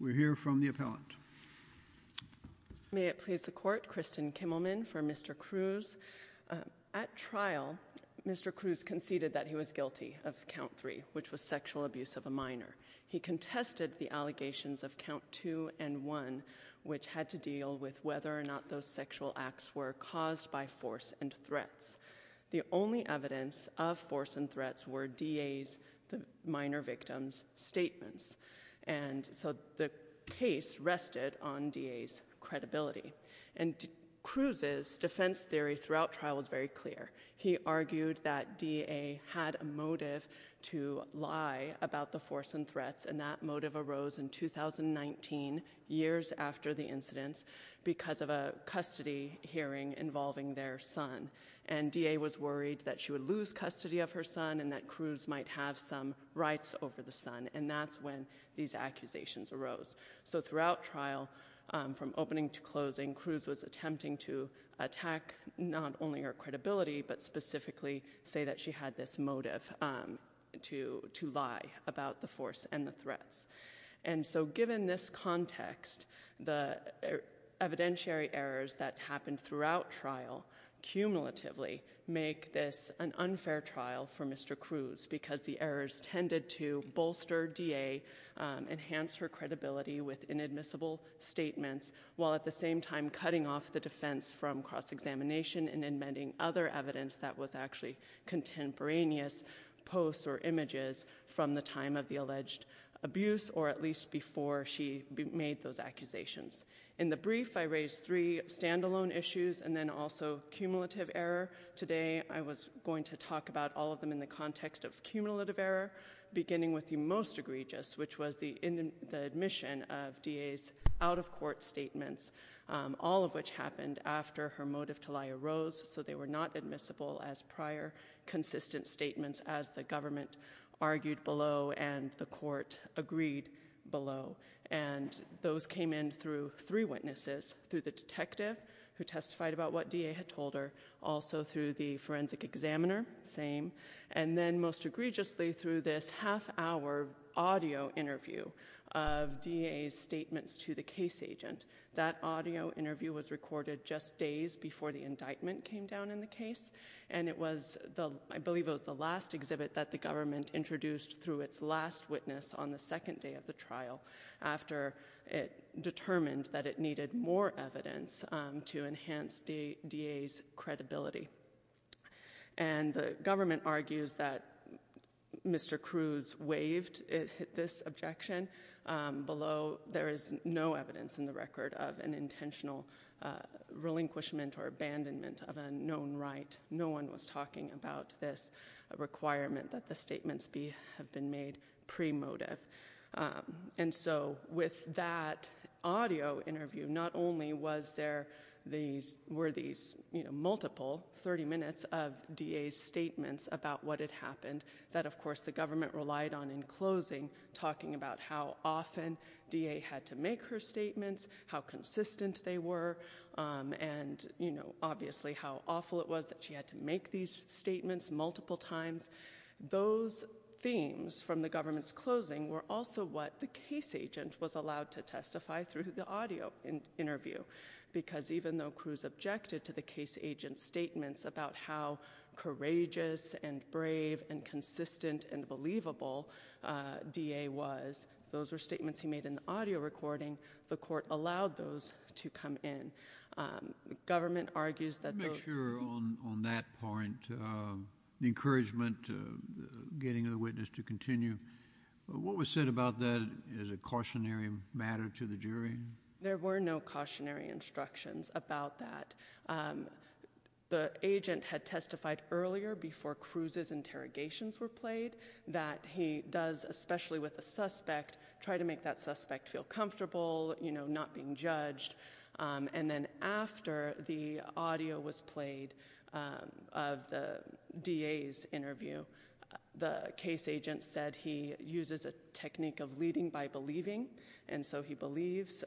We're here from the appellant May it please the court Kristen Kimmelman for mr. Cruz At trial mr. Cruz conceded that he was guilty of count three, which was sexual abuse of a minor He contested the allegations of count two and one Which had to deal with whether or not those sexual acts were caused by force and threats The only evidence of force and threats were DA's the minor victims Statements and so the case rested on DA's credibility and Cruz's defense theory throughout trial was very clear He argued that DA had a motive to lie about the force and threats and that motive arose in 2019 years after the incidents because of a custody hearing involving their son and DA was worried that she would lose custody of her son and that Cruz might have some rights over the son and that's when these Accusations arose so throughout trial from opening to closing Cruz was attempting to attack Not only her credibility, but specifically say that she had this motive to to lie about the force and the threats and so given this context the evidentiary errors that happened throughout trial Cumulatively make this an unfair trial for mr. Cruz because the errors tended to bolster DA Enhance her credibility with inadmissible statements while at the same time cutting off the defense from cross-examination and in mending other evidence that was actually contemporaneous posts or images from the time of the alleged Abuse or at least before she made those accusations in the brief I raised three standalone issues and then also cumulative error today I was going to talk about all of them in the context of cumulative error Beginning with the most egregious which was the in the admission of DA's out-of-court statements All of which happened after her motive to lie arose so they were not admissible as prior consistent statements as the government argued below and the court agreed below and Those came in through three witnesses through the detective who testified about what DA had told her also through the forensic examiner same and then most egregiously through this half-hour audio interview of DA's statements to the case agent that audio interview was recorded just days before the indictment came down in the case and it was The I believe it was the last exhibit that the government introduced through its last witness on the second day of the trial after it determined that it needed more evidence to enhance the DA's credibility and the government argues that Mr. Cruz waived it hit this objection Below there is no evidence in the record of an intentional Relinquishment or abandonment of a known right? No one was talking about this Requirement that the statements be have been made pre motive And so with that Audio interview not only was there these were these multiple 30 minutes of DA's Statements about what had happened that of course the government relied on in closing talking about how often DA had to make her statements how consistent they were And you know, obviously how awful it was that she had to make these statements multiple times Those themes from the government's closing were also what the case agent was allowed to testify through the audio in interview because even though Cruz objected to the case agent's statements about how courageous and brave and consistent and believable DA was those were statements he made in the audio recording the court allowed those to come in The government argues that make sure on that point The encouragement Getting a witness to continue What was said about that is a cautionary matter to the jury. There were no cautionary instructions about that The agent had testified earlier before Cruz's interrogations were played that he does especially with a suspect Try to make that suspect feel comfortable, you know, not being judged And then after the audio was played Of the DA's interview the case agent said he uses a technique of leading by believing and so he believes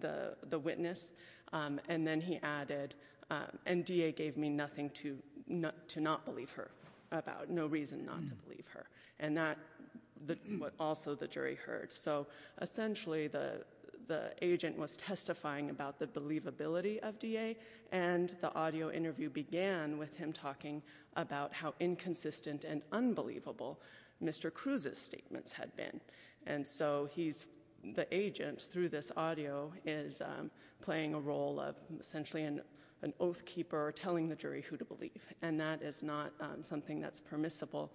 the the witness And then he added And DA gave me nothing to not to not believe her about no reason not to believe her and that the what also the jury heard so Essentially the the agent was testifying about the believability of DA and The audio interview began with him talking about how inconsistent and unbelievable Mr. Cruz's statements had been and so he's the agent through this audio is Playing a role of essentially an an oath keeper or telling the jury who to believe and that is not something that's permissible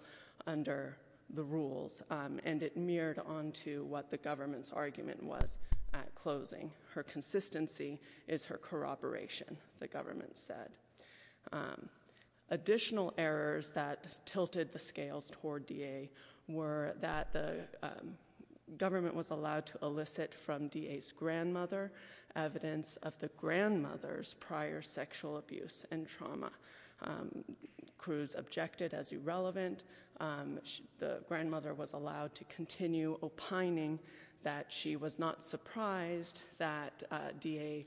Under the rules and it mirrored on to what the government's argument was at closing Her consistency is her corroboration the government said Additional errors that tilted the scales toward DA were that the Government was allowed to elicit from DA's grandmother evidence of the grandmother's prior sexual abuse and trauma Cruz objected as irrelevant The grandmother was allowed to continue opining that she was not surprised that DA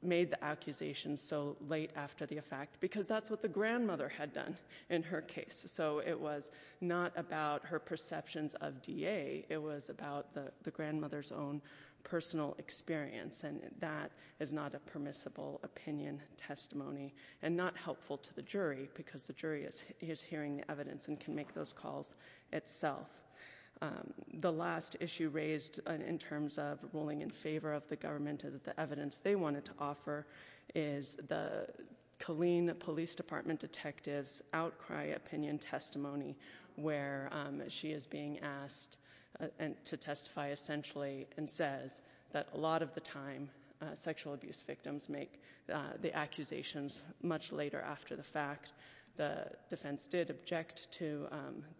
Made the accusation so late after the effect because that's what the grandmother had done in her case So it was not about her perceptions of DA It was about the the grandmother's own personal experience and that is not a permissible opinion Testimony and not helpful to the jury because the jury is he is hearing the evidence and can make those calls itself the last issue raised in terms of ruling in favor of the government of the evidence they wanted to offer is the Colleen Police Department detectives outcry opinion testimony where she is being asked And to testify essentially and says that a lot of the time Sexual abuse victims make the accusations much later after the fact the defense did object to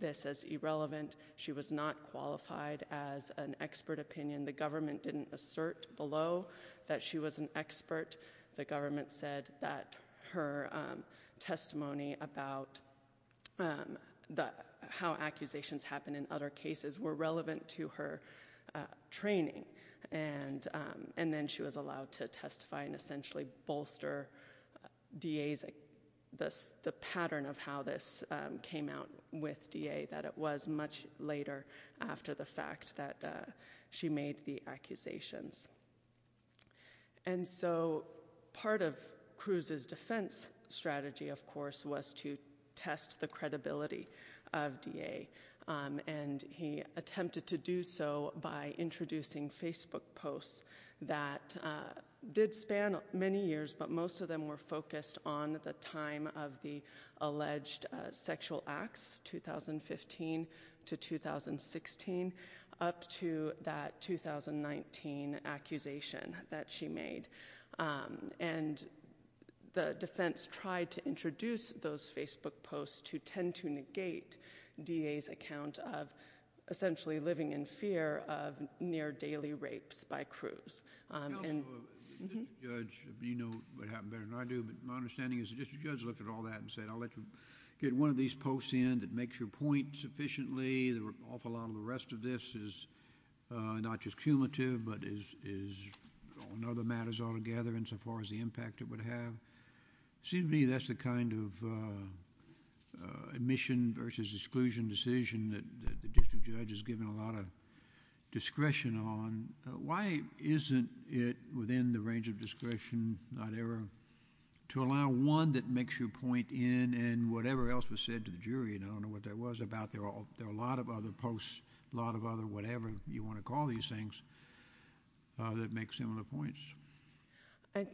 This as irrelevant. She was not qualified as an expert opinion the government didn't assert below that she was an expert the government said that her testimony about The how accusations happen in other cases were relevant to her training and And then she was allowed to testify and essentially bolster DA's Thus the pattern of how this came out with DA that it was much later after the fact that she made the accusations and so Part of Cruz's defense strategy, of course was to test the credibility of DA And he attempted to do so by introducing Facebook posts that Did span many years, but most of them were focused on at the time of the alleged sexual acts 2015 to 2016 up to that 2019 accusation that she made and the defense tried to introduce those Facebook posts to tend to negate DA's account of Living in fear of near daily rapes by Cruz Get one of these posts in that makes your point sufficiently there were awful a lot of the rest of this is not just cumulative but is Another matters all together insofar as the impact it would have seemed to me that's the kind of Admission versus exclusion decision that the district judge has given a lot of Discretion on why isn't it within the range of discretion not ever? To allow one that makes your point in and whatever else was said to the jury You don't know what that was about. They're all there a lot of other posts a lot of other whatever you want to call these things That make similar points. I Have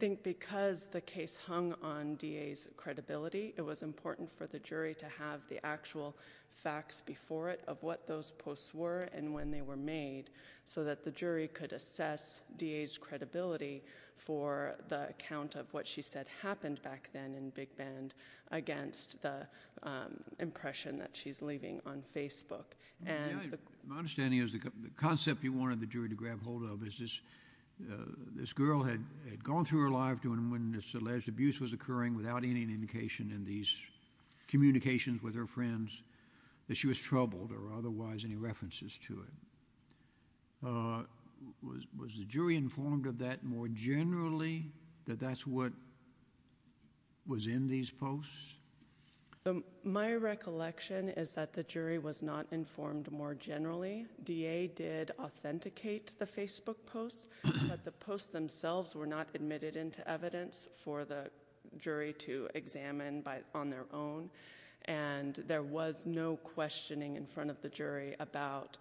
the actual facts before it of what those posts were and when they were made so that the jury could assess DA's credibility for the account of what she said happened back then in Big Bend against the impression that she's leaving on Facebook and Understanding is the concept you wanted the jury to grab hold of is this This girl had gone through her life doing when this alleged abuse was occurring without any indication in these Communications with her friends that she was troubled or otherwise any references to it Was the jury informed of that more generally that that's what Was in these posts So my recollection is that the jury was not informed more generally da did authenticate the Facebook posts but the posts themselves were not admitted into evidence for the And there was no questioning in front of the jury about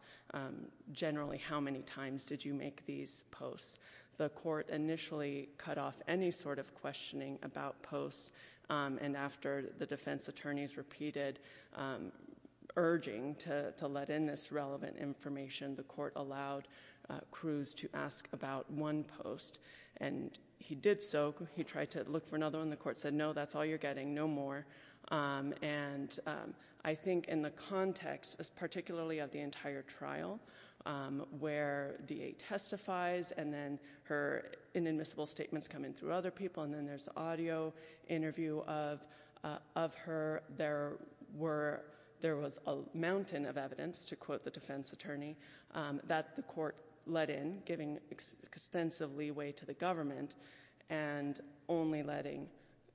Generally, how many times did you make these posts the court initially cut off any sort of questioning about posts? And after the defense attorneys repeated Urging to let in this relevant information the court allowed Cruz to ask about one post and He did so he tried to look for another one. The court said no, that's all you're getting no more And I think in the context is particularly of the entire trial Where da testifies and then her inadmissible statements come in through other people and then there's audio interview of Of her there were there was a mountain of evidence to quote the defense attorney that the court let in giving extensively way to the government and only letting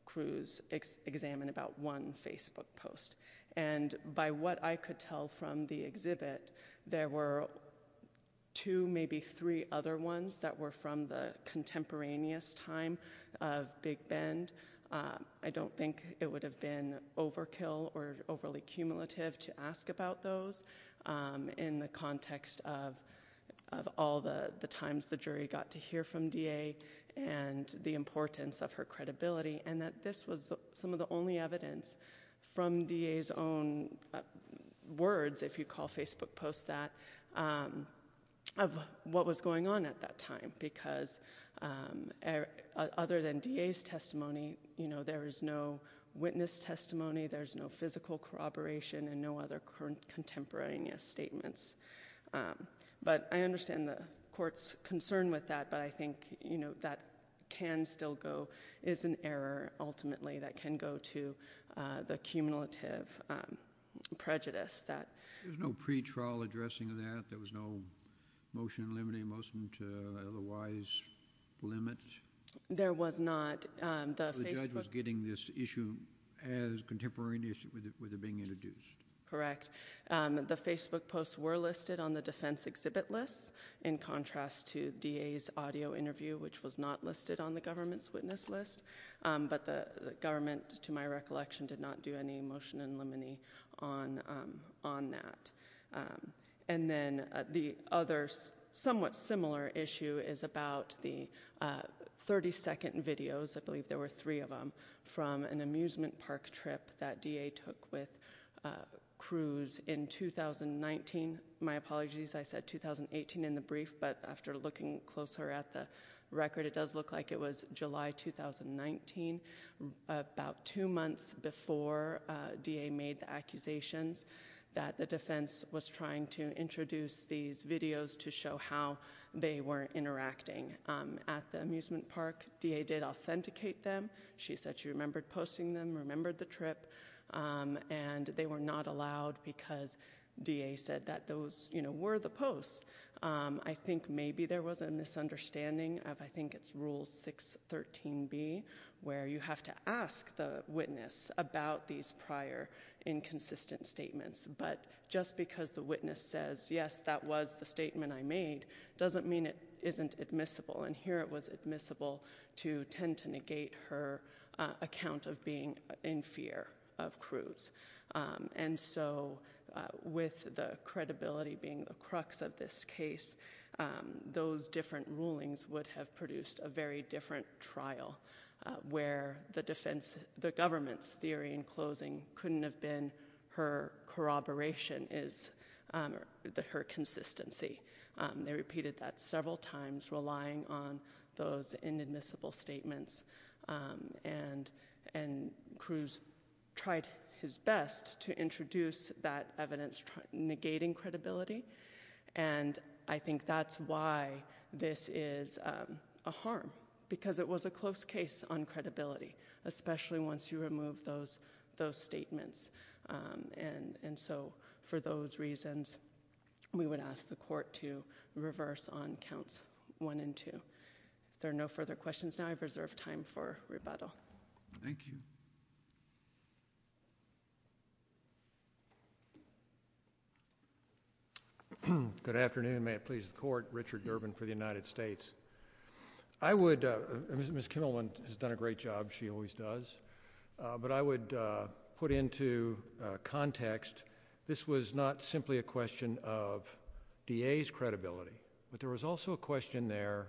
Cruz examine about one Facebook post and by what I could tell from the exhibit there were two maybe three other ones that were from the contemporaneous time of big bend I don't think it would have been overkill or overly cumulative to ask about those in the context of all the the times the jury got to hear from da and The importance of her credibility and that this was some of the only evidence from da's own words if you call Facebook post that of what was going on at that time because Other than da's testimony, you know, there is no witness testimony. There's no physical corroboration and no other current contemporaneous statements But I understand the court's concern with that, but I think you know that can still go is an error ultimately that can go to the cumulative Prejudice that there's no pretrial addressing of that. There was no motion limiting motion to otherwise Limit there was not Getting this issue as On the defense exhibit lists in contrast to da's audio interview, which was not listed on the government's witness list but the government to my recollection did not do any motion and limine on on that and then the others somewhat similar issue is about the 32nd videos, I believe there were three of them from an amusement park trip that da took with Cruz in 2019 my apologies. I said 2018 in the brief, but after looking closer at the record, it does look like it was July 2019 about two months before Da made the accusations that the defense was trying to introduce these videos to show how they were Interacting at the amusement park da did authenticate them. She said she remembered posting them remembered the trip And they were not allowed because da said that those, you know were the post I think maybe there was a misunderstanding of I think it's rule 6 13 B Where you have to ask the witness about these prior? Inconsistent statements, but just because the witness says yes, that was the statement I made doesn't mean it isn't admissible and here it was admissible to tend to negate her account of being in fear of Cruz and so With the credibility being the crux of this case Those different rulings would have produced a very different trial Where the defense the government's theory in closing couldn't have been her corroboration is The her consistency they repeated that several times relying on those inadmissible statements And and Cruz tried his best to introduce that evidence negating credibility and I think that's why this is a harm because it was a close case on credibility Especially once you remove those those statements And and so for those reasons We would ask the court to reverse on counts one and two There are no further questions now, I've reserved time for rebuttal. Thank you Good afternoon, may it please the court Richard Durbin for the United States. I Would miss Kimmelman has done a great job. She always does but I would put into Context this was not simply a question of DA's credibility, but there was also a question there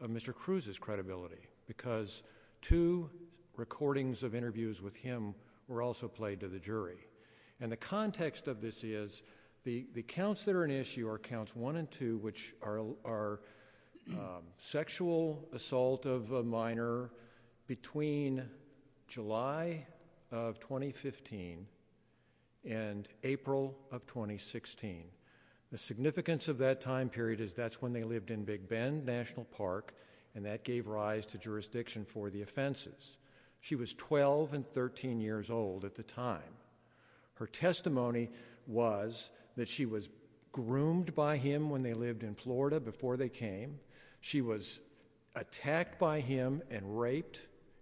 of mr. Cruz's credibility because two recordings of interviews with him were also played to the jury and the context of this is the the counts that are an issue or counts one and two which are our Sexual assault of a minor between July of 2015 and April of 2016 the significance of that time period is that's when they lived in Big Bend National Park and that gave rise to Jurisdiction for the offenses. She was 12 and 13 years old at the time Her testimony was that she was groomed by him when they lived in Florida before they came she was Attacked by him and raped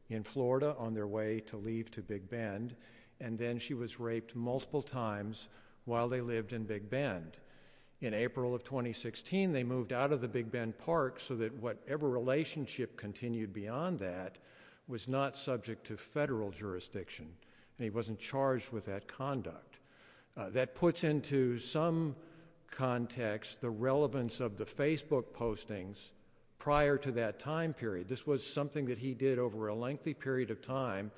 in Florida on their way to leave to Big Bend And then she was raped multiple times while they lived in Big Bend in April of 2016 They moved out of the Big Bend Park so that whatever relationship continued beyond that was not subject to federal Jurisdiction and he wasn't charged with that conduct that puts into some Context the relevance of the Facebook postings prior to that time period this was something that he did over a lengthy period of time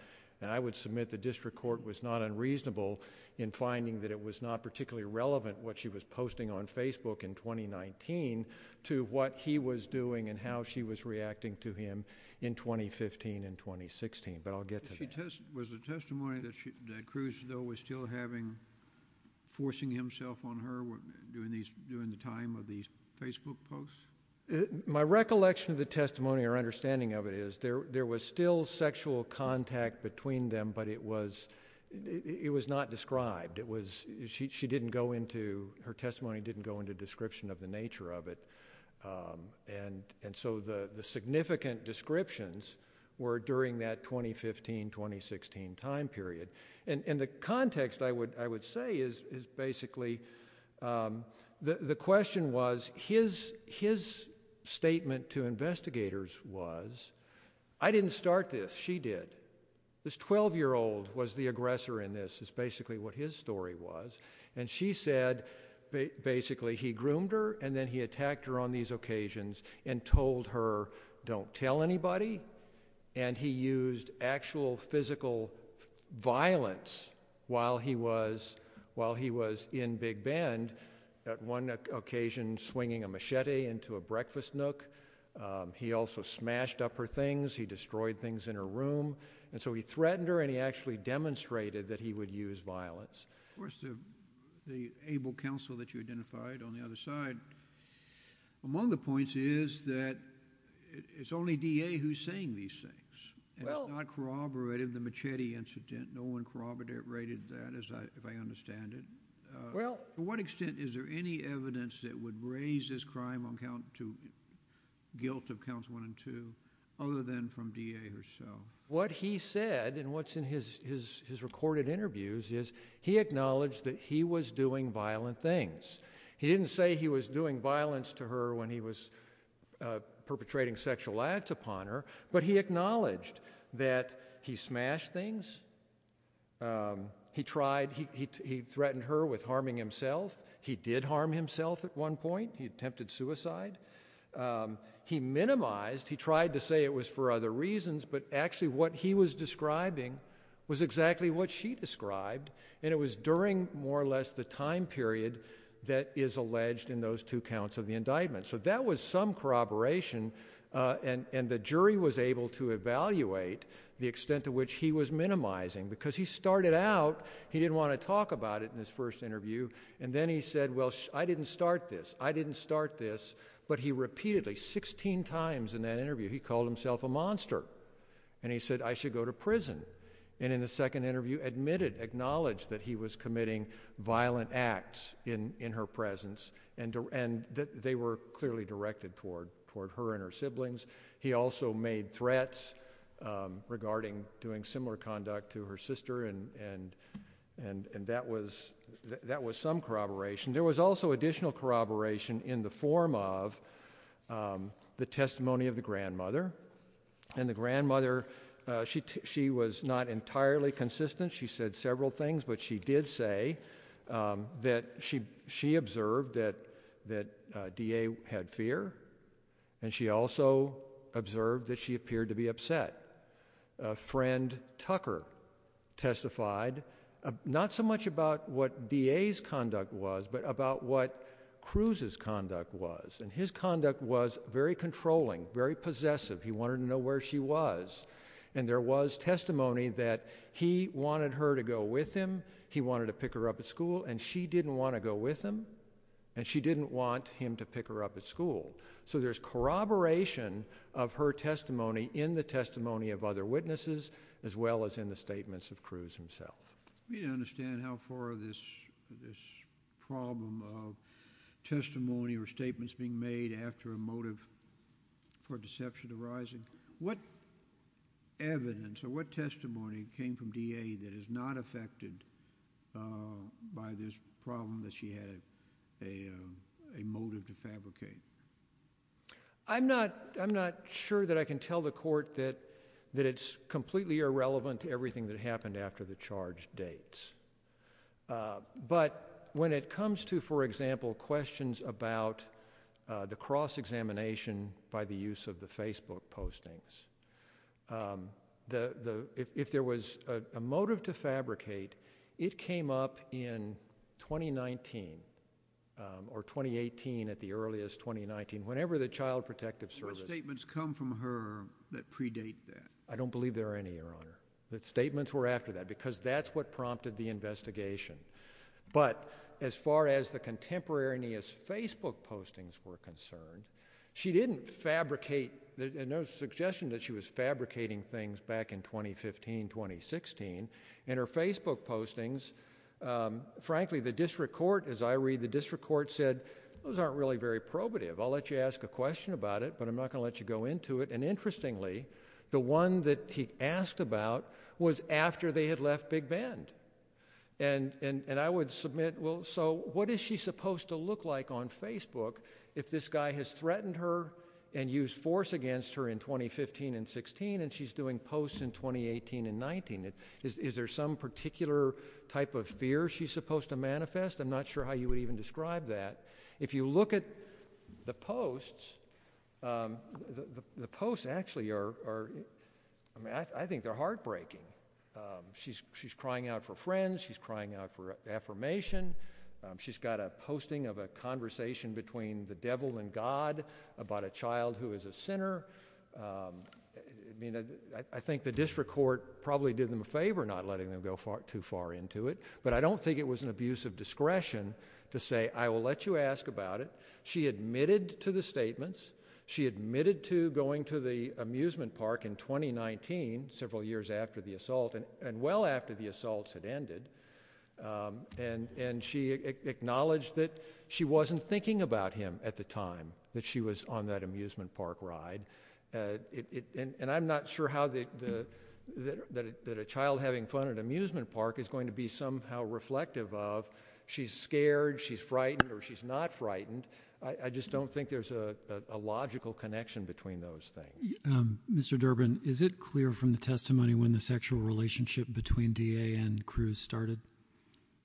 and I would submit the district court was not unreasonable in Finding that it was not particularly relevant what she was posting on Facebook in 2019 to what he was doing and how she was reacting to him in 2015 and 2016, but I'll get to test was a testimony that Cruz though was still having Forcing himself on her were doing these during the time of these Facebook posts My recollection of the testimony or understanding of it is there there was still sexual contact between them, but it was It was not described. It was she didn't go into her testimony didn't go into description of the nature of it and and so the the significant descriptions were during that 2015 2016 time period and in the context I would I would say is is basically The the question was his his Statement to investigators was I didn't start this she did This 12 year old was the aggressor in this is basically what his story was and she said Basically, he groomed her and then he attacked her on these occasions and told her don't tell anybody and he used actual physical Violence while he was While he was in Big Bend at one occasion swinging a machete into a breakfast nook He also smashed up her things He destroyed things in her room, and so he threatened her and he actually demonstrated that he would use violence The able counsel that you identified on the other side among the points is that It's only DA who's saying these things Well, I corroborated the machete incident. No one corroborated rated that as I understand it Well to what extent is there any evidence that would raise this crime on count to? guilt of counts one and two other than from DA herself what he said and what's in his Recorded interviews is he acknowledged that he was doing violent things. He didn't say he was doing violence to her when he was Perpetrating sexual acts upon her, but he acknowledged that he smashed things He tried he threatened her with harming himself. He did harm himself at one point. He attempted suicide He minimized he tried to say it was for other reasons But actually what he was describing was exactly what she described and it was during more or less the time period That is alleged in those two counts of the indictment so that was some corroboration And and the jury was able to evaluate the extent to which he was minimizing because he started out He didn't want to talk about it in his first interview, and then he said well. I didn't start this I didn't start this, but he repeatedly 16 times in that interview He called himself a monster And he said I should go to prison and in the second interview admitted acknowledged that he was committing violent acts In in her presence and and that they were clearly directed toward toward her and her siblings. He also made threats regarding doing similar conduct to her sister and and and and that was That was some corroboration. There was also additional corroboration in the form of the testimony of the grandmother and the grandmother She she was not entirely consistent. She said several things, but she did say That she she observed that that DA had fear and she also Observed that she appeared to be upset friend Tucker testified Not so much about what DA's conduct was but about what? Cruz's conduct was and his conduct was very controlling very possessive He wanted to know where she was and there was testimony that he wanted her to go with him He wanted to pick her up at school and she didn't want to go with him and she didn't want him to pick her up at school so there's Corroboration of her testimony in the testimony of other witnesses as well as in the statements of Cruz himself We understand how far this this problem of Testimony or statements being made after a motive for deception arising what? Evidence or what testimony came from DA that is not affected by this problem that she had a motive to fabricate I'm not I'm not sure that I can tell the court that that it's completely irrelevant to everything that happened after the charge dates But when it comes to for example questions about the cross-examination by the use of the Facebook postings The the if there was a motive to fabricate it came up in 2019 Or 2018 at the earliest 2019 whenever the Child Protective Service statements come from her that predate that I don't believe there are any your honor that statements were after that because that's what prompted the investigation But as far as the contemporaneous Facebook postings were concerned She didn't fabricate there's no suggestion that she was fabricating things back in 2015 2016 and her Facebook postings Frankly the district court as I read the district court said those aren't really very probative I'll let you ask a question about it but I'm not gonna let you go into it and interestingly the one that he asked about was after they had left Big Bend and And I would submit well, so what is she supposed to look like on Facebook if this guy has threatened her and used force? Against her in 2015 and 16 and she's doing posts in 2018 and 19 It is there some particular type of fear she's supposed to manifest I'm not sure how you would even describe that if you look at the posts The posts actually are I mean, I think they're heartbreaking She's she's crying out for friends. She's crying out for Affirmation. She's got a posting of a conversation between the devil and God about a child who is a sinner I Think the district court probably did them a favor not letting them go far too far into it But I don't think it was an abuse of discretion to say I will let you ask about it She admitted to the statements. She admitted to going to the amusement park in 2019 several years after the assault and and well after the assaults had ended and and she Acknowledged that she wasn't thinking about him at the time that she was on that amusement park ride and I'm not sure how the That a child having fun at amusement park is going to be somehow reflective of she's scared. She's frightened or she's not frightened I just don't think there's a Logical connection between those things Mr. Durbin, is it clear from the testimony when the sexual relationship between DA and Cruz started?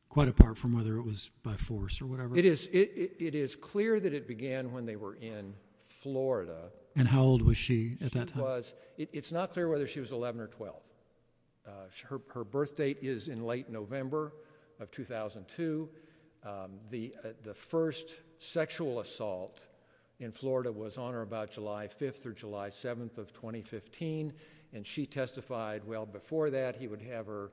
Quite apart from whether it was by force or whatever. It is it is clear that it began when they were in Florida and how old was she at that was it's not clear whether she was 11 or 12 Her birth date is in late November of 2002 the the first sexual assault in September 7th of 2015 and she testified. Well before that he would have her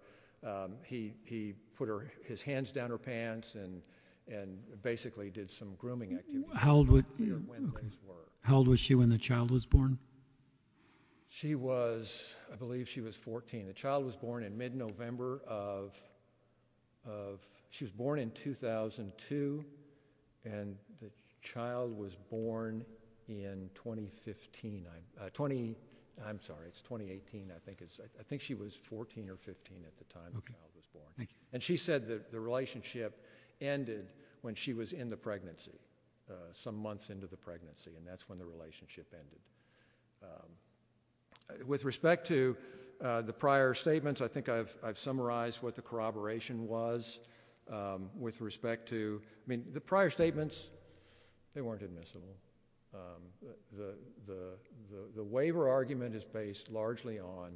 he he put her his hands down her pants and and Basically did some grooming. How old would How old was she when the child was born? She was I believe she was 14. The child was born in mid-november of She was born in 2002 and The child was born in 2015 I'm 20. I'm sorry. It's 2018. I think it's I think she was 14 or 15 at the time Okay, and she said that the relationship ended when she was in the pregnancy Some months into the pregnancy and that's when the relationship ended With respect to the prior statements, I think I've summarized what the corroboration was With respect to I mean the prior statements They weren't admissible The the the waiver argument is based largely on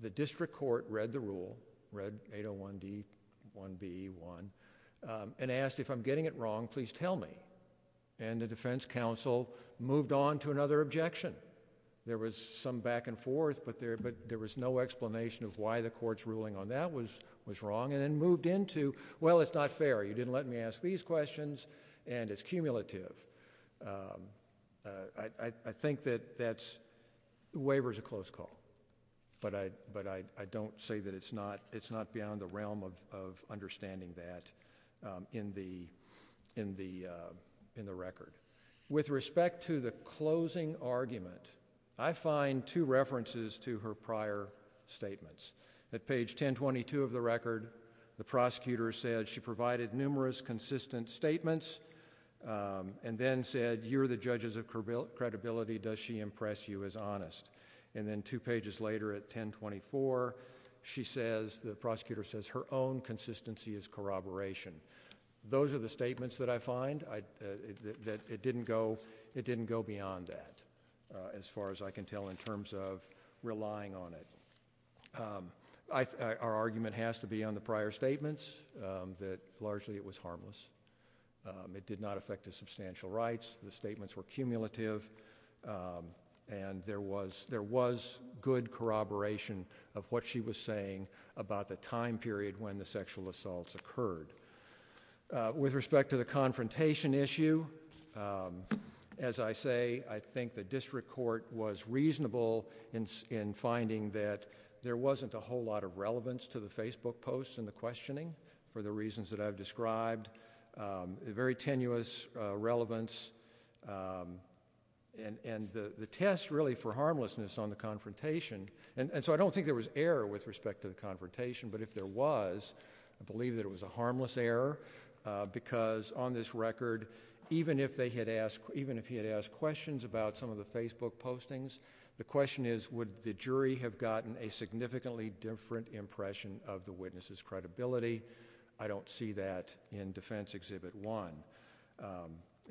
The district court read the rule read 801 d 1 b 1 And asked if I'm getting it wrong, please tell me and the defense counsel moved on to another objection There was some back and forth But there but there was no explanation of why the court's ruling on that was was wrong and then moved into well It's not fair. You didn't let me ask these questions and it's cumulative I think that that's Waiver is a close call But I but I I don't say that it's not it's not beyond the realm of understanding that in the in the In the record with respect to the closing argument. I find two references to her prior Statements at page 1022 of the record the prosecutor said she provided numerous consistent statements And then said you're the judges of credibility does she impress you as honest and then two pages later at 1024 She says the prosecutor says her own consistency is corroboration Those are the statements that I find I that it didn't go it didn't go beyond that As far as I can tell in terms of relying on it I Our argument has to be on the prior statements that largely it was harmless It did not affect his substantial rights. The statements were cumulative And there was there was good corroboration of what she was saying about the time period when the sexual assaults occurred with respect to the confrontation issue as I say I think the district court was reasonable in Finding that there wasn't a whole lot of relevance to the Facebook posts and the questioning for the reasons that I've described The very tenuous relevance And and the the test really for harmlessness on the confrontation and and so I don't think there was error with respect to the Confrontation, but if there was I believe that it was a harmless error Because on this record even if they had asked even if he had asked questions about some of the Facebook postings The question is would the jury have gotten a significantly different impression of the witnesses credibility? I don't see that in defense exhibit one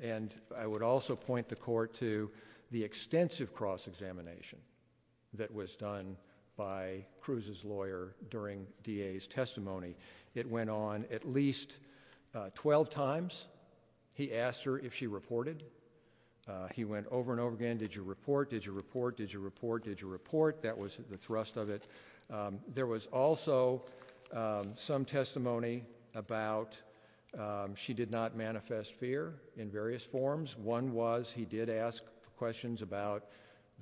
And I would also point the court to the extensive cross-examination That was done by Cruz's lawyer during DA's testimony. It went on at least 12 times He asked her if she reported He went over and over again. Did you report did you report? Did you report? Did you report that was the thrust of it? There was also Some testimony about She did not manifest fear in various forms One was he did ask questions about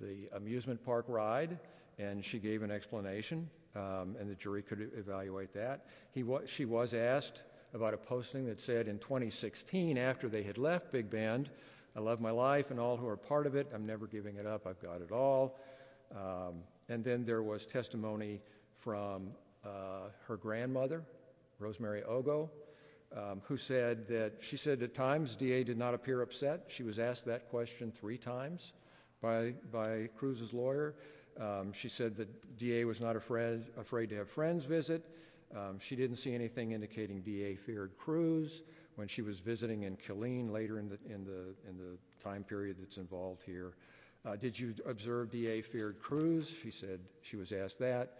the amusement park ride and she gave an explanation And the jury could evaluate that he what she was asked about a posting that said in 2016 after they had left big band. I love my life and all who are part of it. I'm never giving it up I've got it all and then there was testimony from her grandmother Rosemary Ogo Who said that she said at times da did not appear upset. She was asked that question three times by by Cruz's lawyer She said that da was not a friend afraid to have friends visit She didn't see anything indicating da feared Cruz when she was visiting in Killeen later in the in the in the time period That's involved here. Did you observe da feared Cruz? She said she was asked that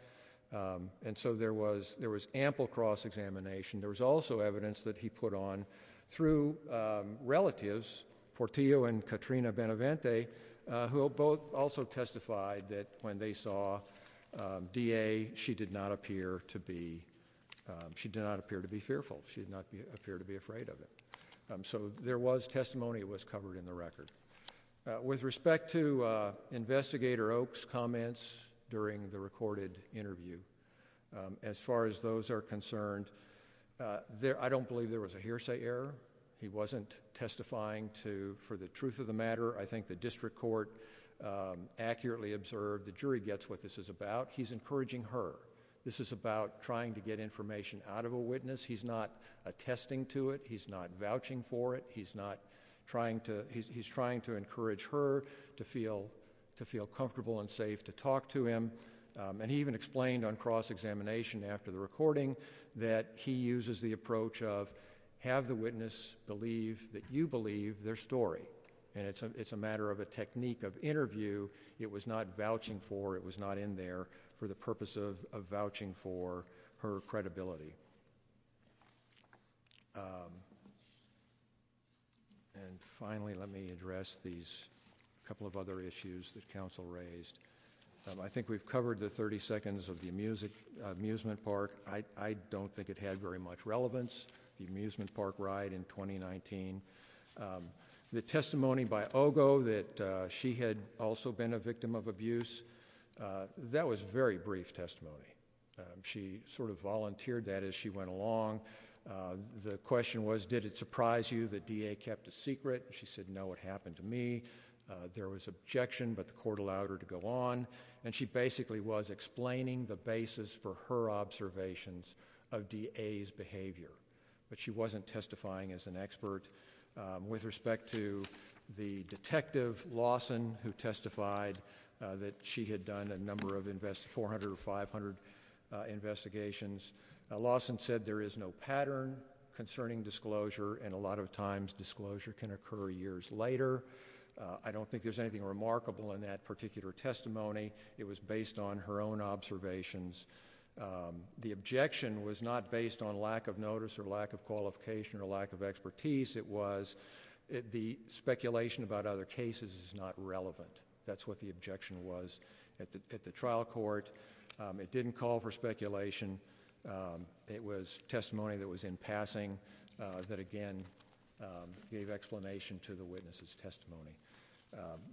And so there was there was ample cross-examination there was also evidence that he put on through relatives Portillo and Katrina benevente who both also testified that when they saw Da she did not appear to be She did not appear to be fearful. She did not appear to be afraid of it So there was testimony was covered in the record with respect to the recorded interview As far as those are concerned There I don't believe there was a hearsay error. He wasn't testifying to for the truth of the matter. I think the district court Accurately observed the jury gets what this is about. He's encouraging her. This is about trying to get information out of a witness He's not attesting to it. He's not vouching for it He's not trying to he's trying to encourage her to feel to feel comfortable and safe to talk to him And he even explained on cross-examination after the recording that he uses the approach of have the witness Believe that you believe their story and it's a it's a matter of a technique of interview It was not vouching for it was not in there for the purpose of vouching for her credibility And finally, let me address these a couple of other issues that counsel raised I think we've covered the 30 seconds of the music amusement park I don't think it had very much relevance the amusement park ride in 2019 The testimony by Ogo that she had also been a victim of abuse That was very brief testimony She sort of volunteered that as she went along The question was did it surprise you that DA kept a secret? She said no what happened to me? There was objection, but the court allowed her to go on and she basically was explaining the basis for her Observations of DA's behavior, but she wasn't testifying as an expert with respect to the Detective Lawson who testified that she had done a number of invest 400 or 500 Investigations Lawson said there is no pattern concerning disclosure and a lot of times disclosure can occur years later I don't think there's anything remarkable in that particular testimony. It was based on her own observations The objection was not based on lack of notice or lack of qualification or lack of expertise. It was The speculation about other cases is not relevant. That's what the objection was at the trial court It didn't call for speculation It was testimony that was in passing that again Gave explanation to the witnesses testimony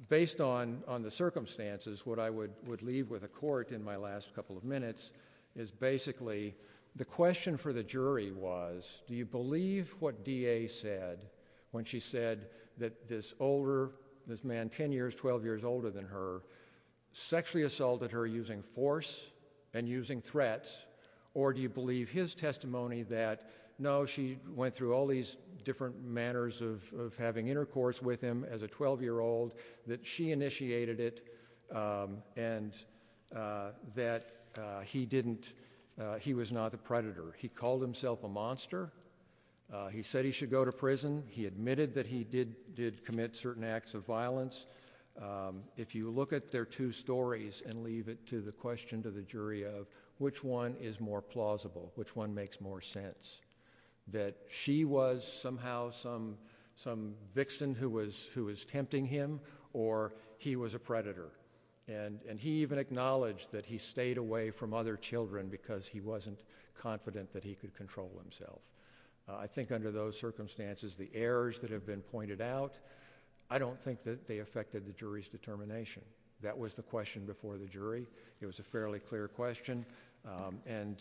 based on on the circumstances what I would would leave with a court in my last couple of minutes is Basically the question for the jury was do you believe what DA said? When she said that this older this man 10 years 12 years older than her sexually assaulted her using force and using threats Or do you believe his testimony that no she went through all these different manners of Having intercourse with him as a 12 year old that she initiated it and That he didn't he was not the predator. He called himself a monster He said he should go to prison. He admitted that he did did commit certain acts of violence If you look at their two stories and leave it to the question to the jury of which one is more plausible Which one makes more sense? that she was somehow some some vixen who was who was tempting him or He was a predator and and he even acknowledged that he stayed away from other children because he wasn't Confident that he could control himself. I think under those circumstances the errors that have been pointed out I don't think that they affected the jury's determination. That was the question before the jury. It was a fairly clear question And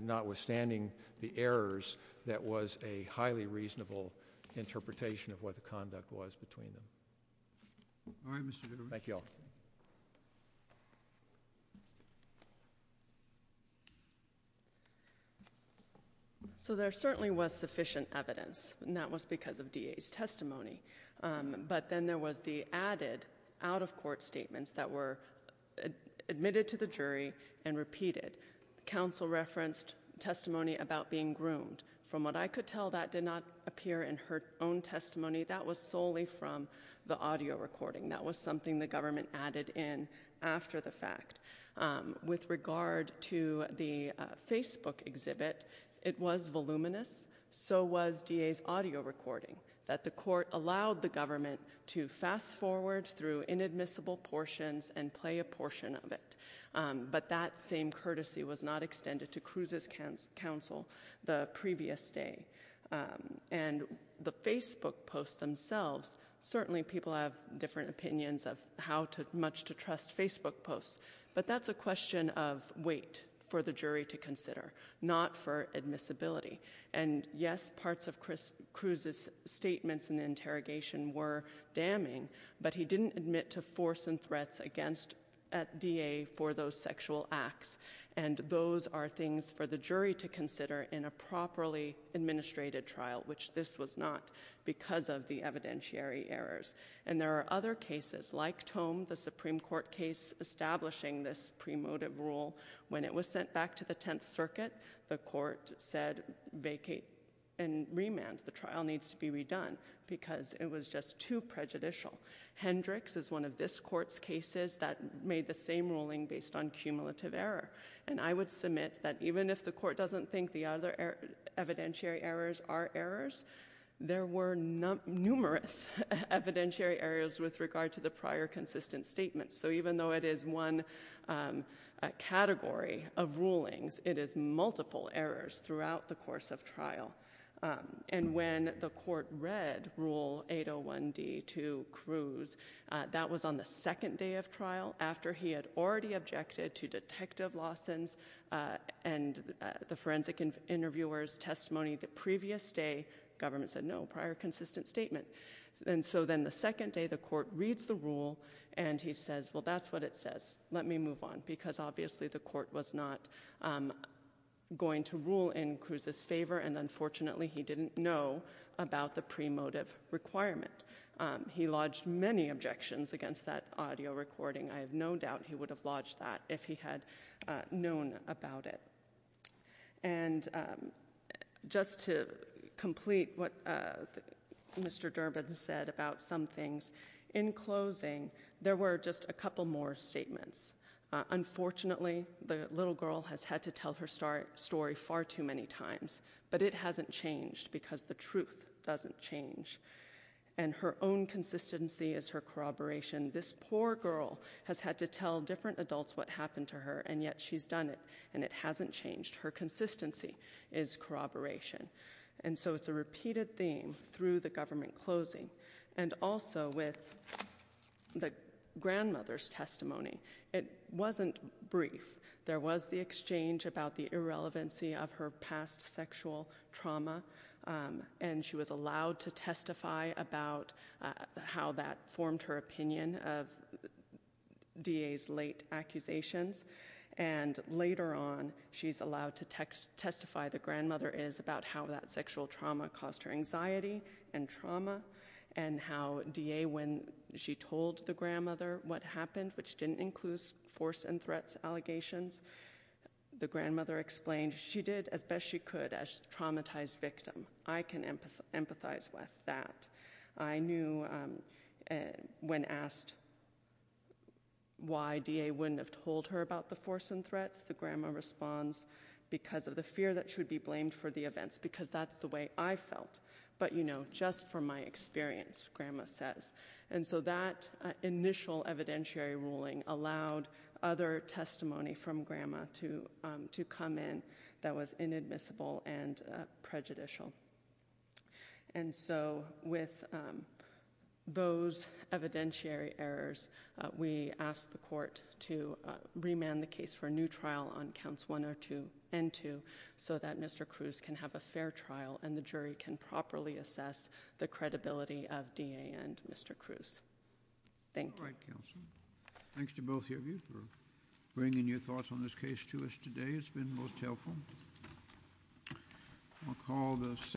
notwithstanding the errors. That was a highly reasonable Interpretation of what the conduct was between them Thank you So there certainly was sufficient evidence and that was because of DA's testimony but then there was the added out-of-court statements that were admitted to the jury and repeated Council referenced testimony about being groomed from what I could tell that did not appear in her own testimony That was solely from the audio recording. That was something the government added in after the fact with regard to the Facebook exhibit it was voluminous So was DA's audio recording that the court allowed the government to fast-forward through inadmissible portions and play a portion of it But that same courtesy was not extended to Cruz's counsel the previous day and the Facebook posts themselves Certainly people have different opinions of how to much to trust Facebook posts but that's a question of wait for the jury to consider not for admissibility and Yes, parts of Chris Cruz's statements in the interrogation were damning but he didn't admit to force and threats against at DA for those sexual acts and Those are things for the jury to consider in a properly Administrated trial which this was not because of the evidentiary errors and there are other cases like tome the Supreme Court case Establishing this premotive rule when it was sent back to the Tenth Circuit The court said vacate and remand the trial needs to be redone because it was just too prejudicial Hendricks is one of this court's cases that made the same ruling based on cumulative error And I would submit that even if the court doesn't think the other evidentiary errors are errors There were not numerous Evidentiary areas with regard to the prior consistent statements. So even though it is one Category of rulings it is multiple errors throughout the course of trial And when the court read rule 801 d2 Cruz that was on the second day of trial after he had already objected to detective Lawson's and The forensic interviewer's testimony the previous day government said no prior consistent statement And so then the second day the court reads the rule and he says well, that's what it says Let me move on because obviously the court was not Going to rule in Cruz's favor, and unfortunately, he didn't know about the pre motive requirement He lodged many objections against that audio recording. I have no doubt. He would have lodged that if he had known about it and Just to complete what Mr. Durbin said about some things in closing there were just a couple more statements Unfortunately, the little girl has had to tell her story story far too many times But it hasn't changed because the truth doesn't change and her own Consistency is her corroboration this poor girl has had to tell different adults what happened to her and yet she's done it and it hasn't Changed her consistency is Repeated theme through the government closing and also with the Grandmother's testimony. It wasn't brief There was the exchange about the irrelevancy of her past sexual trauma and she was allowed to testify about how that formed her opinion of DA's late accusations and Later on she's allowed to text testify the grandmother is about how that sexual trauma caused her anxiety and trauma and How da when she told the grandmother what happened which didn't include force and threats allegations The grandmother explained she did as best she could as traumatized victim. I can emphasize with that. I knew when asked Why da wouldn't have told her about the force and threats the grandma responds Because of the fear that should be blamed for the events because that's the way I felt But you know just from my experience grandma says and so that initial evidentiary ruling allowed other testimony from grandma to to come in that was inadmissible and prejudicial and so with those evidentiary errors we asked the court to Remand the case for a new trial on counts one or two and two so that mr Cruz can have a fair trial and the jury can properly assess the credibility of da and mr. Cruz Thank you Thanks to both of you for bringing your thoughts on this case to us today. It's been most helpful I'll call the